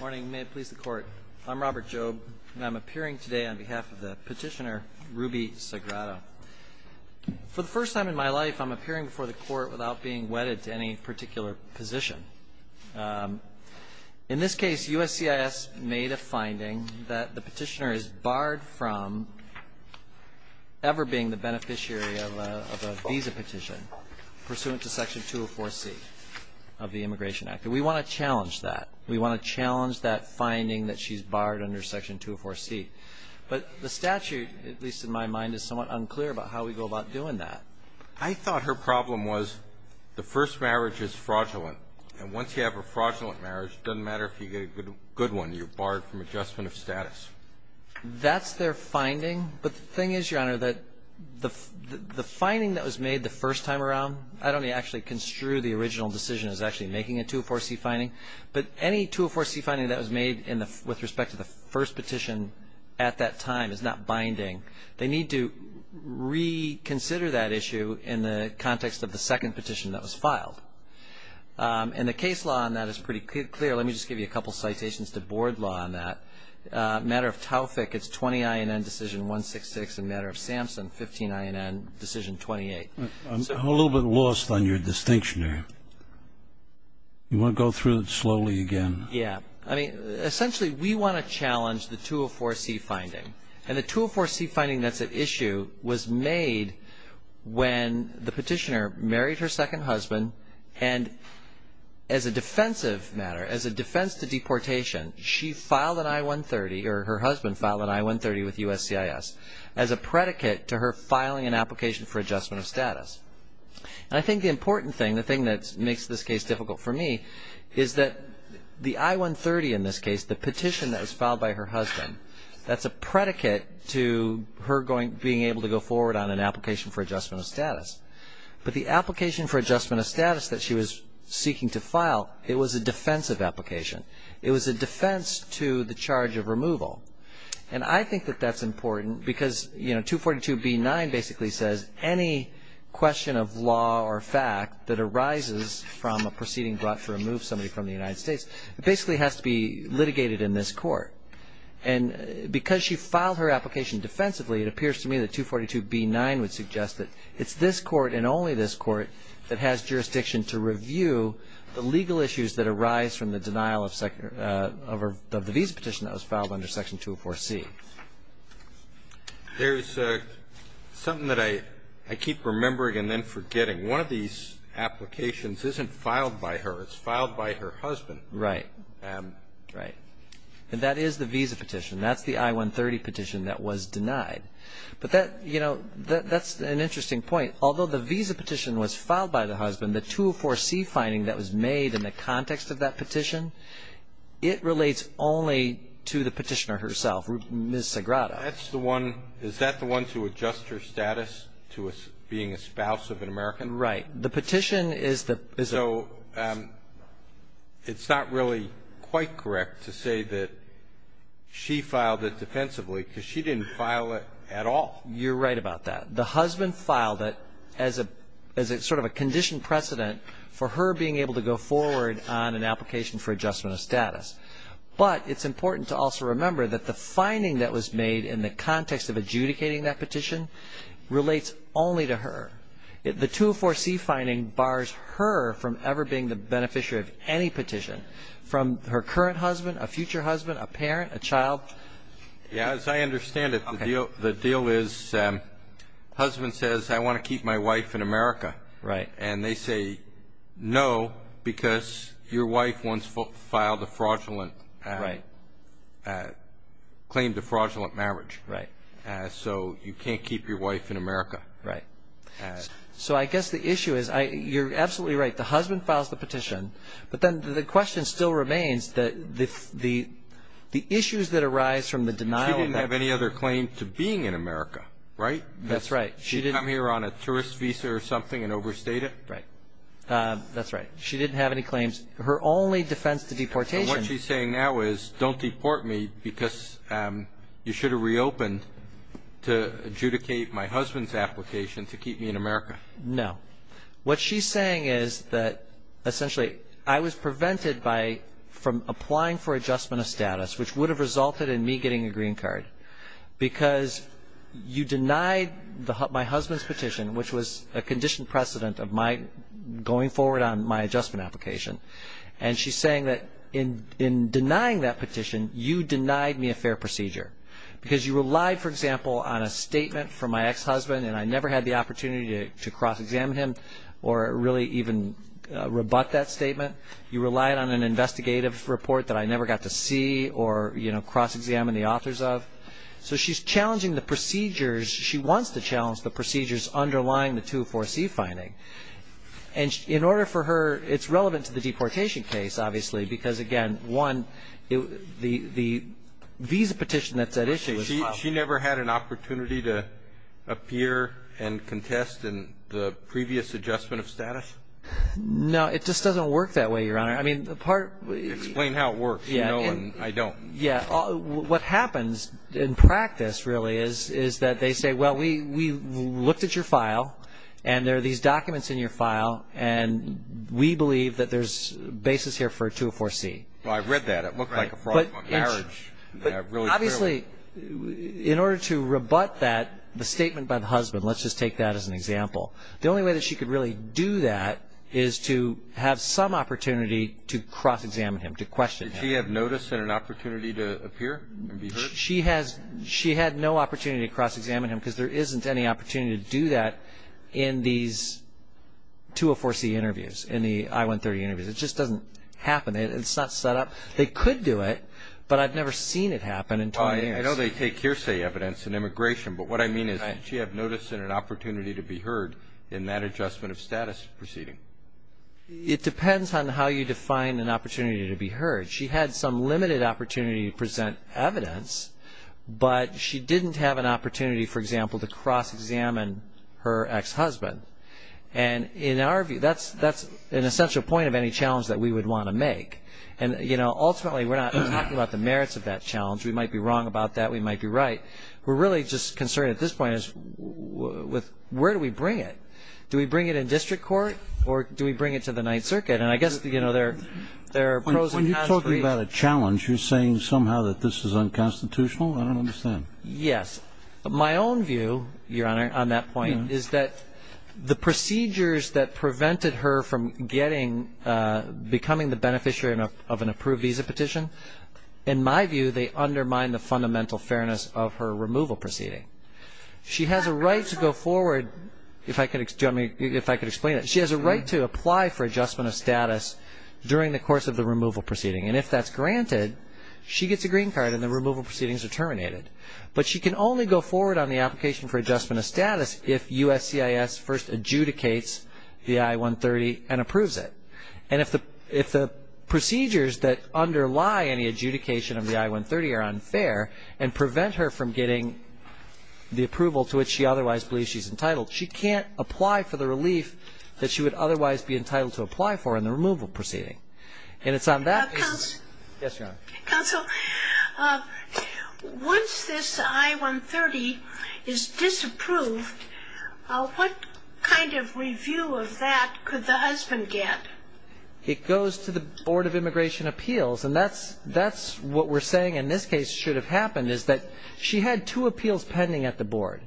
Morning, may it please the court. I'm Robert Jobe and I'm appearing today on behalf of the petitioner Ruby Sagrado For the first time in my life, I'm appearing before the court without being wedded to any particular position in this case USCIS made a finding that the petitioner is barred from Ever being the beneficiary of a visa petition Pursuant to section 204 C of the Immigration Act and we want to challenge that we want to challenge that Finding that she's barred under section 204 C But the statute at least in my mind is somewhat unclear about how we go about doing that I thought her problem was The first marriage is fraudulent and once you have a fraudulent marriage doesn't matter if you get a good one You're barred from adjustment of status That's their finding but the thing is your honor that the the finding that was made the first time around I don't actually construe the original decision is actually making a 204 C finding but any 204 C finding that was made in the with respect to the first petition at that time is not binding they need to Reconsider that issue in the context of the second petition that was filed And the case law on that is pretty clear. Let me just give you a couple citations to board law on that Matter of Taufik. It's 20 INN decision 166 a matter of Samson 15 INN decision 28 I'm a little bit lost on your distinction You want to go through it slowly again? Yeah, I mean essentially we want to challenge the 204 C finding and the 204 C finding that's at issue was made when the petitioner married her second husband and As a defensive matter as a defense to deportation She filed an I-130 or her husband filed an I-130 with USCIS as a predicate to her filing an application for adjustment of status And I think the important thing the thing that makes this case difficult for me Is that the I-130 in this case the petition that was filed by her husband? That's a predicate to her going being able to go forward on an application for adjustment of status But the application for adjustment of status that she was seeking to file it was a defensive application It was a defense to the charge of removal and I think that that's important because you know 242 B 9 basically says any question of law or fact that arises from a proceeding brought to remove somebody from the United States basically has to be litigated in this court and Because she filed her application Defensively it appears to me that 242 B 9 would suggest that it's this court and only this court that has jurisdiction to review The legal issues that arise from the denial of sector of the visa petition that was filed under section 204 C There's Something that I I keep remembering and then forgetting one of these Applications isn't filed by her. It's filed by her husband, right? Right and that is the visa petition that's the I-130 petition that was denied But that you know That's an interesting point Although the visa petition was filed by the husband the 204 C finding that was made in the context of that petition It relates only to the petitioner herself miss Sagrada That's the one is that the one to adjust her status to us being a spouse of an American, right? The petition is that so It's not really quite correct to say that She filed it defensively because she didn't file it at all You're right about that the husband filed it as a as a sort of a condition precedent For her being able to go forward on an application for adjustment of status But it's important to also remember that the finding that was made in the context of adjudicating that petition Relates only to her it the 204 C finding bars her from ever being the beneficiary of any petition From her current husband a future husband a parent a child Yeah, as I understand it the deal the deal is Husband says I want to keep my wife in America, right and they say No, because your wife once filed a fraudulent, right? Claim to fraudulent marriage, right? So you can't keep your wife in America, right? So I guess the issue is I you're absolutely right the husband files the petition but then the question still remains that if the The issues that arise from the denial didn't have any other claim to being in America, right? That's right She didn't I'm here on a tourist visa or something and overstated, right? That's right. She didn't have any claims her only defense to deportation Don't deport me because You should have reopened To adjudicate my husband's application to keep me in America. No what she's saying is that Essentially I was prevented by from applying for adjustment of status, which would have resulted in me getting a green card because You denied the hut my husband's petition, which was a conditioned precedent of my going forward on my adjustment application And she's saying that in in denying that petition you denied me a fair procedure because you relied for example on a statement from my ex-husband and I never had the opportunity to cross-examine him or really even Rebut that statement you relied on an investigative report that I never got to see or you know cross-examine the authors of So she's challenging the procedures. She wants to challenge the procedures underlying the to foresee finding and In order for her it's relevant to the deportation case obviously because again one it the the Visa petition that's at issue. She never had an opportunity to Appear and contest in the previous adjustment of status No, it just doesn't work that way your honor. I mean the part we explain how it works. Yeah, I don't yeah What happens in practice really is is that they say well we we looked at your file And there are these documents in your file, and we believe that there's basis here for a 204 C Well, I've read that it looked like a fraud marriage obviously In order to rebut that the statement by the husband Let's just take that as an example The only way that she could really do that is to have some opportunity to cross-examine him to question He had notice in an opportunity to appear She has she had no opportunity to cross-examine him because there isn't any opportunity to do that in these 204 C interviews in the I 130 interviews. It just doesn't happen. It's not set up They could do it, but I've never seen it happen in time I know they take hearsay evidence in immigration But what I mean is she have notice in an opportunity to be heard in that adjustment of status proceeding It depends on how you define an opportunity to be heard she had some limited opportunity to present evidence but she didn't have an opportunity for example to cross-examine her ex-husband and In our view that's that's an essential point of any challenge that we would want to make and you know ultimately we're not About the merits of that challenge we might be wrong about that. We might be right. We're really just concerned at this point is With where do we bring it do we bring it in district court or do we bring it to the Ninth Circuit and I guess You know, they're there Challenge you're saying somehow that this is unconstitutional. I don't understand. Yes, but my own view your honor on that point Is that the procedures that prevented her from getting? Becoming the beneficiary of an approved visa petition in my view. They undermine the fundamental fairness of her removal proceeding She has a right to go forward if I could examine if I could explain it She has a right to apply for adjustment of status during the course of the removal proceeding and if that's granted She gets a green card and the removal proceedings are terminated But she can only go forward on the application for adjustment of status if USCIS first adjudicates the I-130 and approves it and if the if the procedures that underlie any adjudication of the I-130 are unfair and prevent her from getting The approval to which she otherwise believes she's entitled She can't apply for the relief that she would otherwise be entitled to apply for in the removal proceeding and it's on that Once this I-130 is disapproved What kind of review of that could the husband get? It goes to the Board of Immigration Appeals and that's that's what we're saying in this case should have happened is that she had two appeals pending at the board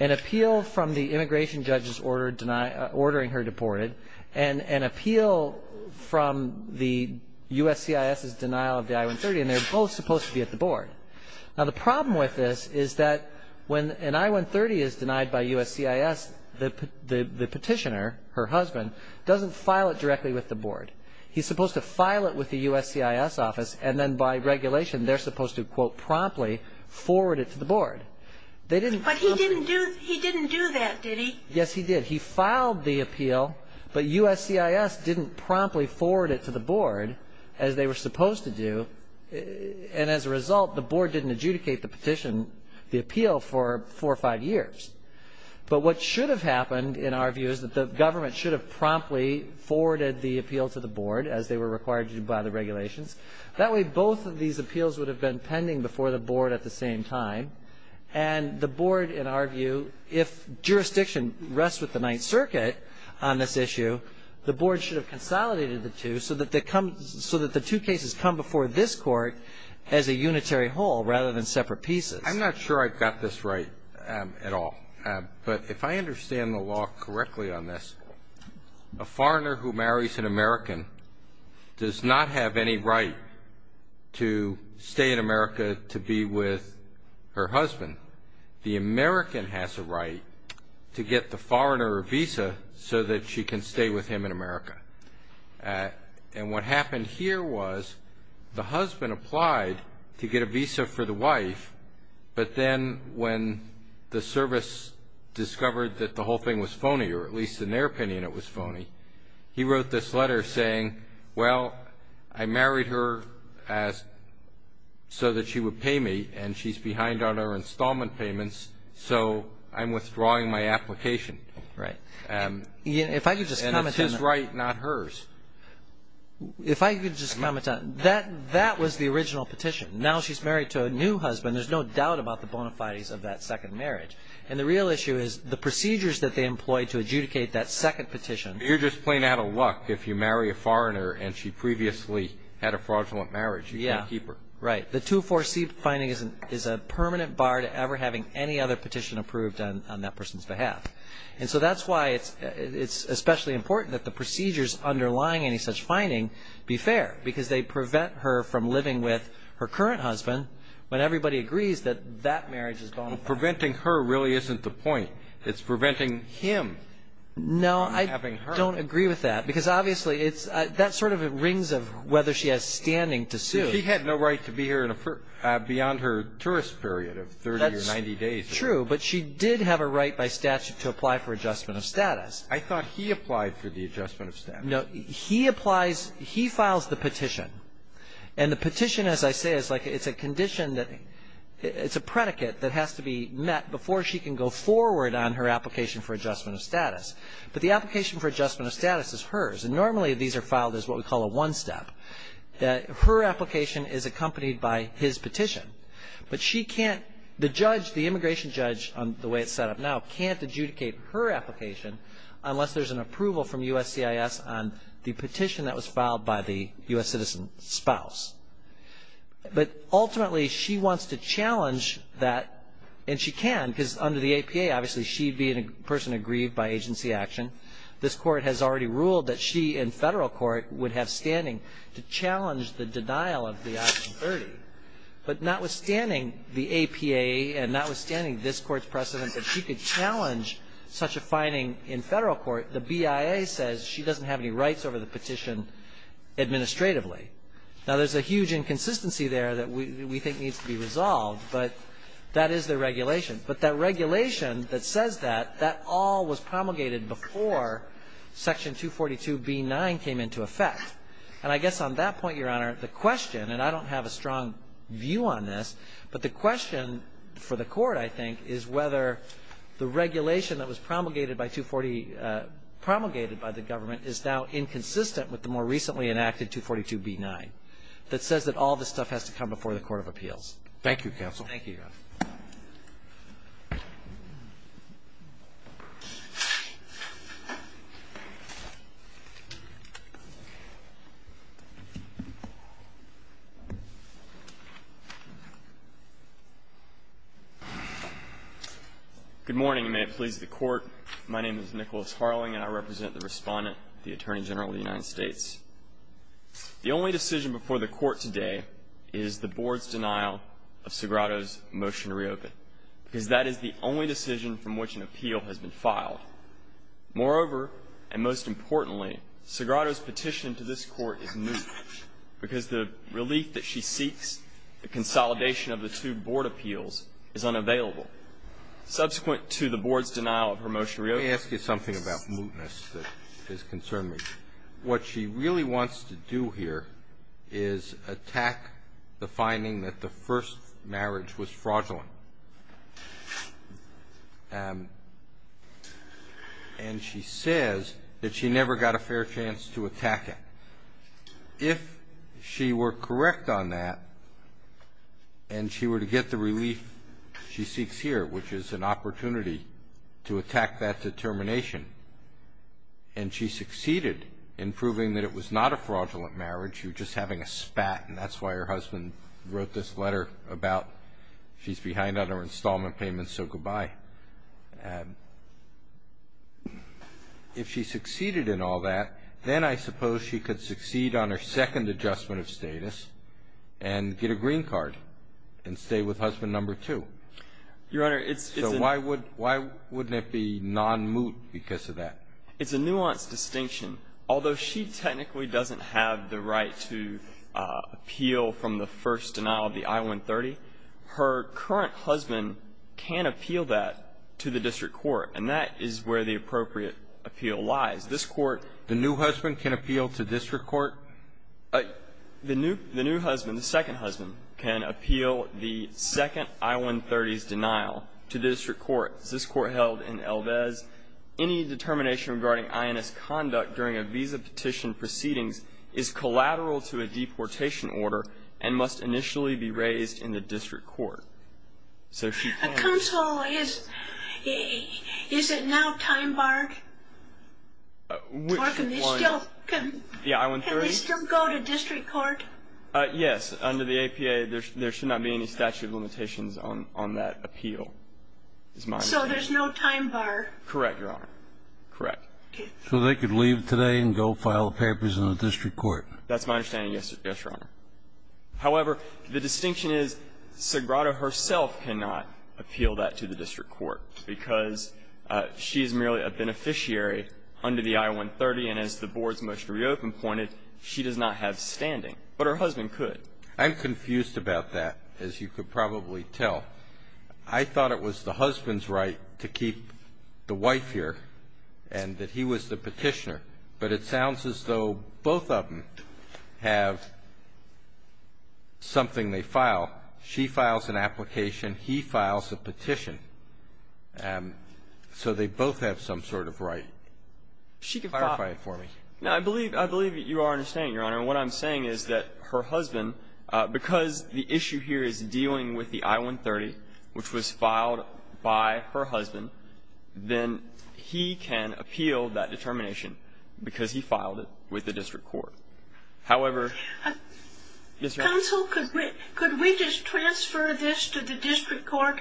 an Appeal from the immigration judges ordering her deported and an appeal From the USCIS's denial of the I-130 and they're both supposed to be at the board Now the problem with this is that when an I-130 is denied by USCIS The petitioner, her husband, doesn't file it directly with the board He's supposed to file it with the USCIS office and then by regulation they're supposed to quote promptly Forward it to the board. They didn't Yes, he did he filed the appeal but USCIS didn't promptly forward it to the board as they were supposed to do And as a result the board didn't adjudicate the petition the appeal for four or five years But what should have happened in our view is that the government should have promptly Forwarded the appeal to the board as they were required to do by the regulations that way both of these appeals would have been pending before the board at the same time and the board in our view if Jurisdiction rests with the Ninth Circuit on this issue The board should have consolidated the two so that they come so that the two cases come before this court as a unitary Whole rather than separate pieces. I'm not sure I've got this right at all but if I understand the law correctly on this a foreigner who marries an American Does not have any right To stay in America to be with her husband The American has a right to get the foreigner a visa so that she can stay with him in America And what happened here was the husband applied to get a visa for the wife But then when the service Discovered that the whole thing was phony or at least in their opinion. It was phony. He wrote this letter saying well, I married her as So that she would pay me and she's behind on our installment payments. So I'm withdrawing my application, right? Yeah, if I could just comment his right not hers If I could just comment on that that was the original petition now, she's married to a new husband There's no doubt about the bona fides of that second marriage And the real issue is the procedures that they employed to adjudicate that second petition You're just playing out of luck if you marry a foreigner and she previously had a fraudulent marriage Yeah, keep her right The two four C finding isn't is a permanent bar to ever having any other petition approved on that person's behalf And so that's why it's it's especially important that the procedures underlying any such finding be fair because they prevent her from living With her current husband when everybody agrees that that marriage is gone preventing her really isn't the point. It's preventing him No I don't agree with that because obviously it's that sort of it rings of whether she has standing to sue he had no right to Beyond her tourist period of 30 or 90 days true But she did have a right by statute to apply for adjustment of status. I thought he applied for the adjustment of staff no, he applies he files the petition and the petition as I say is like it's a condition that It's a predicate that has to be met before she can go forward on her application for adjustment of status But the application for adjustment of status is hers and normally these are filed as what we call a one-step Her application is accompanied by his petition But she can't the judge the immigration judge on the way it's set up now can't adjudicate her application Unless there's an approval from USCIS on the petition that was filed by the US citizen spouse But ultimately she wants to challenge that and she can because under the APA obviously She'd be in a person aggrieved by agency action This court has already ruled that she in federal court would have standing to challenge the denial of the But notwithstanding the APA and notwithstanding this court's precedent that she could challenge Such a finding in federal court the BIA says she doesn't have any rights over the petition Administratively now, there's a huge inconsistency there that we think needs to be resolved But that is the regulation, but that regulation that says that that all was promulgated before Section 242 B 9 came into effect and I guess on that point your honor the question and I don't have a strong View on this but the question for the court I think is whether The regulation that was promulgated by 240 Promulgated by the government is now inconsistent with the more recently enacted 242 B 9 That says that all this stuff has to come before the Court of Appeals. Thank you counsel. Thank you Good morning, you may please the court. My name is Nicholas Harling and I represent the respondent the Attorney General of the United States The only decision before the court today is the board's denial of Sagrado's motion to reopen Because that is the only decision from which an appeal has been filed moreover and most importantly Sagrado's petition to this court is me because the relief that she seeks the consolidation of the two board appeals is unavailable Subsequent to the board's denial of her motion really ask you something about mootness that is concerned me what she really wants to do here is attack the finding that the first marriage was fraudulent and And she says that she never got a fair chance to attack it if she were correct on that and She were to get the relief she seeks here, which is an opportunity to attack that determination and She succeeded in proving that it was not a fraudulent marriage You're just having a spat and that's why her husband wrote this letter about she's behind on her installment payments. So goodbye If she succeeded in all that then I suppose she could succeed on her second adjustment of status and Get a green card and stay with husband number two Your honor, it's so why would why wouldn't it be non moot because of that? It's a nuanced distinction although she technically doesn't have the right to Appeal from the first denial of the i-130 Her current husband can't appeal that to the district court and that is where the appropriate Appeal lies this court the new husband can appeal to district court The new the new husband the second husband can appeal the Second i-130s denial to the district courts this court held in Elbez any determination regarding INS conduct during a visa petition proceedings is Collateral to a deportation order and must initially be raised in the district court so she Is it now time bark Yeah Yes under the APA there should there should not be any statute of limitations on on that appeal It's mine. So there's no time bar. Correct, Your Honor Correct, so they could leave today and go file papers in the district court. That's my understanding. Yes. Yes, Your Honor however, the distinction is Sagrada herself cannot appeal that to the district court because She's merely a beneficiary Under the i-130 and as the board's motion reopen pointed She does not have standing but her husband could I'm confused about that as you could probably tell I Thought it was the husband's right to keep the wife here and that he was the petitioner but it sounds as though both of them have Something they file she files an application he files a petition and So they both have some sort of right She can clarify it for me. No, I believe I believe that you are understanding your honor What I'm saying is that her husband because the issue here is dealing with the i-130 which was filed by her husband Then he can appeal that determination because he filed it with the district court however Could we just transfer this to the district court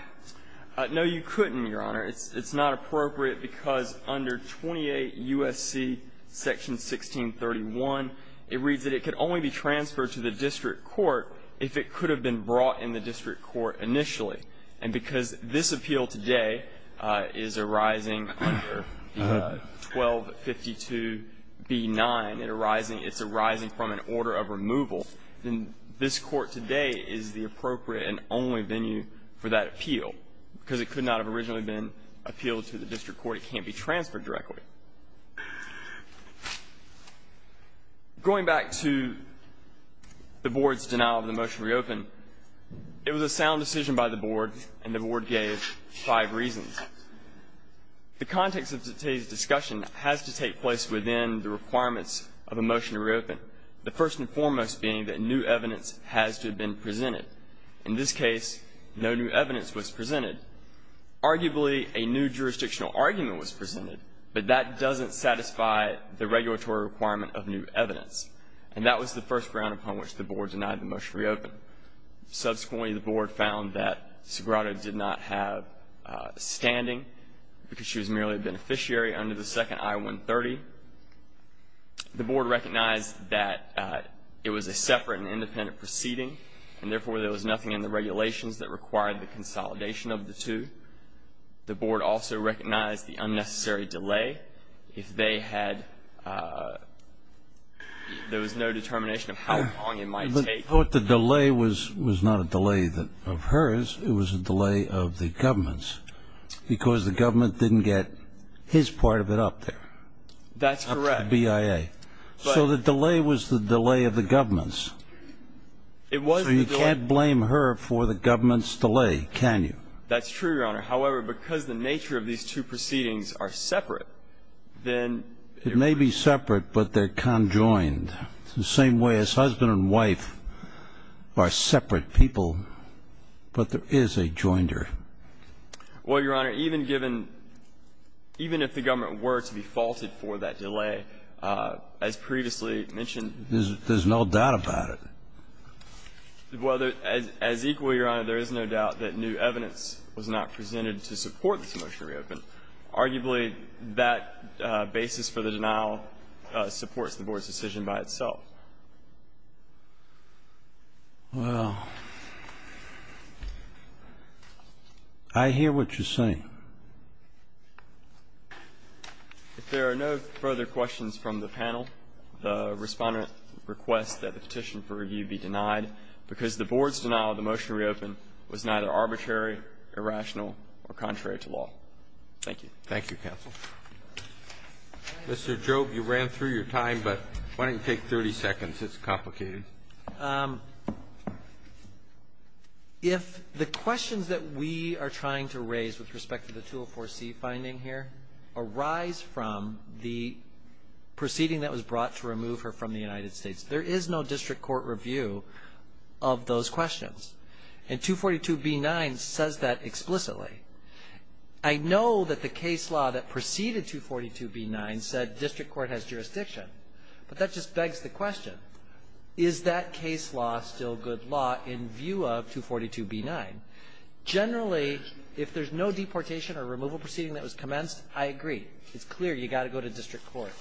No, you couldn't your honor it's it's not appropriate because under 28 USC Section 1631 it reads that it could only be transferred to the district court If it could have been brought in the district court initially and because this appeal today is arising 1252 B9 and arising it's arising from an order of removal Then this court today is the appropriate and only venue for that appeal because it could not have originally been Appealed to the district court. It can't be transferred directly Going back to the board's denial of the motion reopen It was a sound decision by the board and the board gave five reasons The context of today's discussion has to take place within the requirements of a motion to reopen The first and foremost being that new evidence has to have been presented in this case. No new evidence was presented Arguably a new jurisdictional argument was presented But that doesn't satisfy the regulatory requirement of new evidence and that was the first ground upon which the board denied the motion to reopen subsequently the board found that Sagrado did not have Standing because she was merely a beneficiary under the second i-130 The board recognized that It was a separate and independent proceeding and therefore there was nothing in the regulations that required the consolidation of the two the board also recognized the unnecessary delay if they had There was no determination of how long it might take what the delay was was not a delay that of hers It was a delay of the government's because the government didn't get his part of it up there That's correct BIA. So the delay was the delay of the government's It wasn't you can't blame her for the government's delay. Can you that's true your honor However, because the nature of these two proceedings are separate then it may be separate, but they're conjoined the same way as husband and wife are separate people But there is a jointer Well, your honor even given Even if the government were to be faulted for that delay as previously mentioned, there's no doubt about it Whether as equal your honor, there is no doubt that new evidence was not presented to support this motion reopen arguably that basis for the denial Supports the board's decision by itself Well, I Hear what you're saying If there are no further questions from the panel the Respondent requests that the petition for review be denied because the board's denial of the motion reopen was neither arbitrary Irrational or contrary to law. Thank you. Thank you counsel Mr. Job you ran through your time, but why don't you take 30 seconds? It's complicated If The questions that we are trying to raise with respect to the 204 C finding here arise from the Proceeding that was brought to remove her from the United States. There is no district court review of Those questions and 242 B 9 says that explicitly. I Know that the case law that preceded 242 B 9 said district court has jurisdiction But that just begs the question is that case law still good law in view of 242 B 9 Generally, if there's no deportation or removal proceeding that was commenced. I agree. It's clear You got to go to district court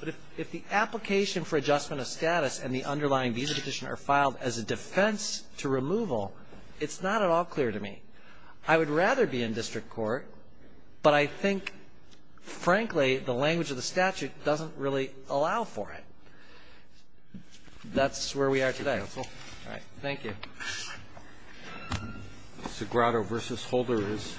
But if the application for adjustment of status and the underlying visa petition are filed as a defense to removal It's not at all clear to me. I would rather be in district court, but I think Frankly the language of the statute doesn't really allow for it That's where we are today. All right. Thank you Sagrado versus holder is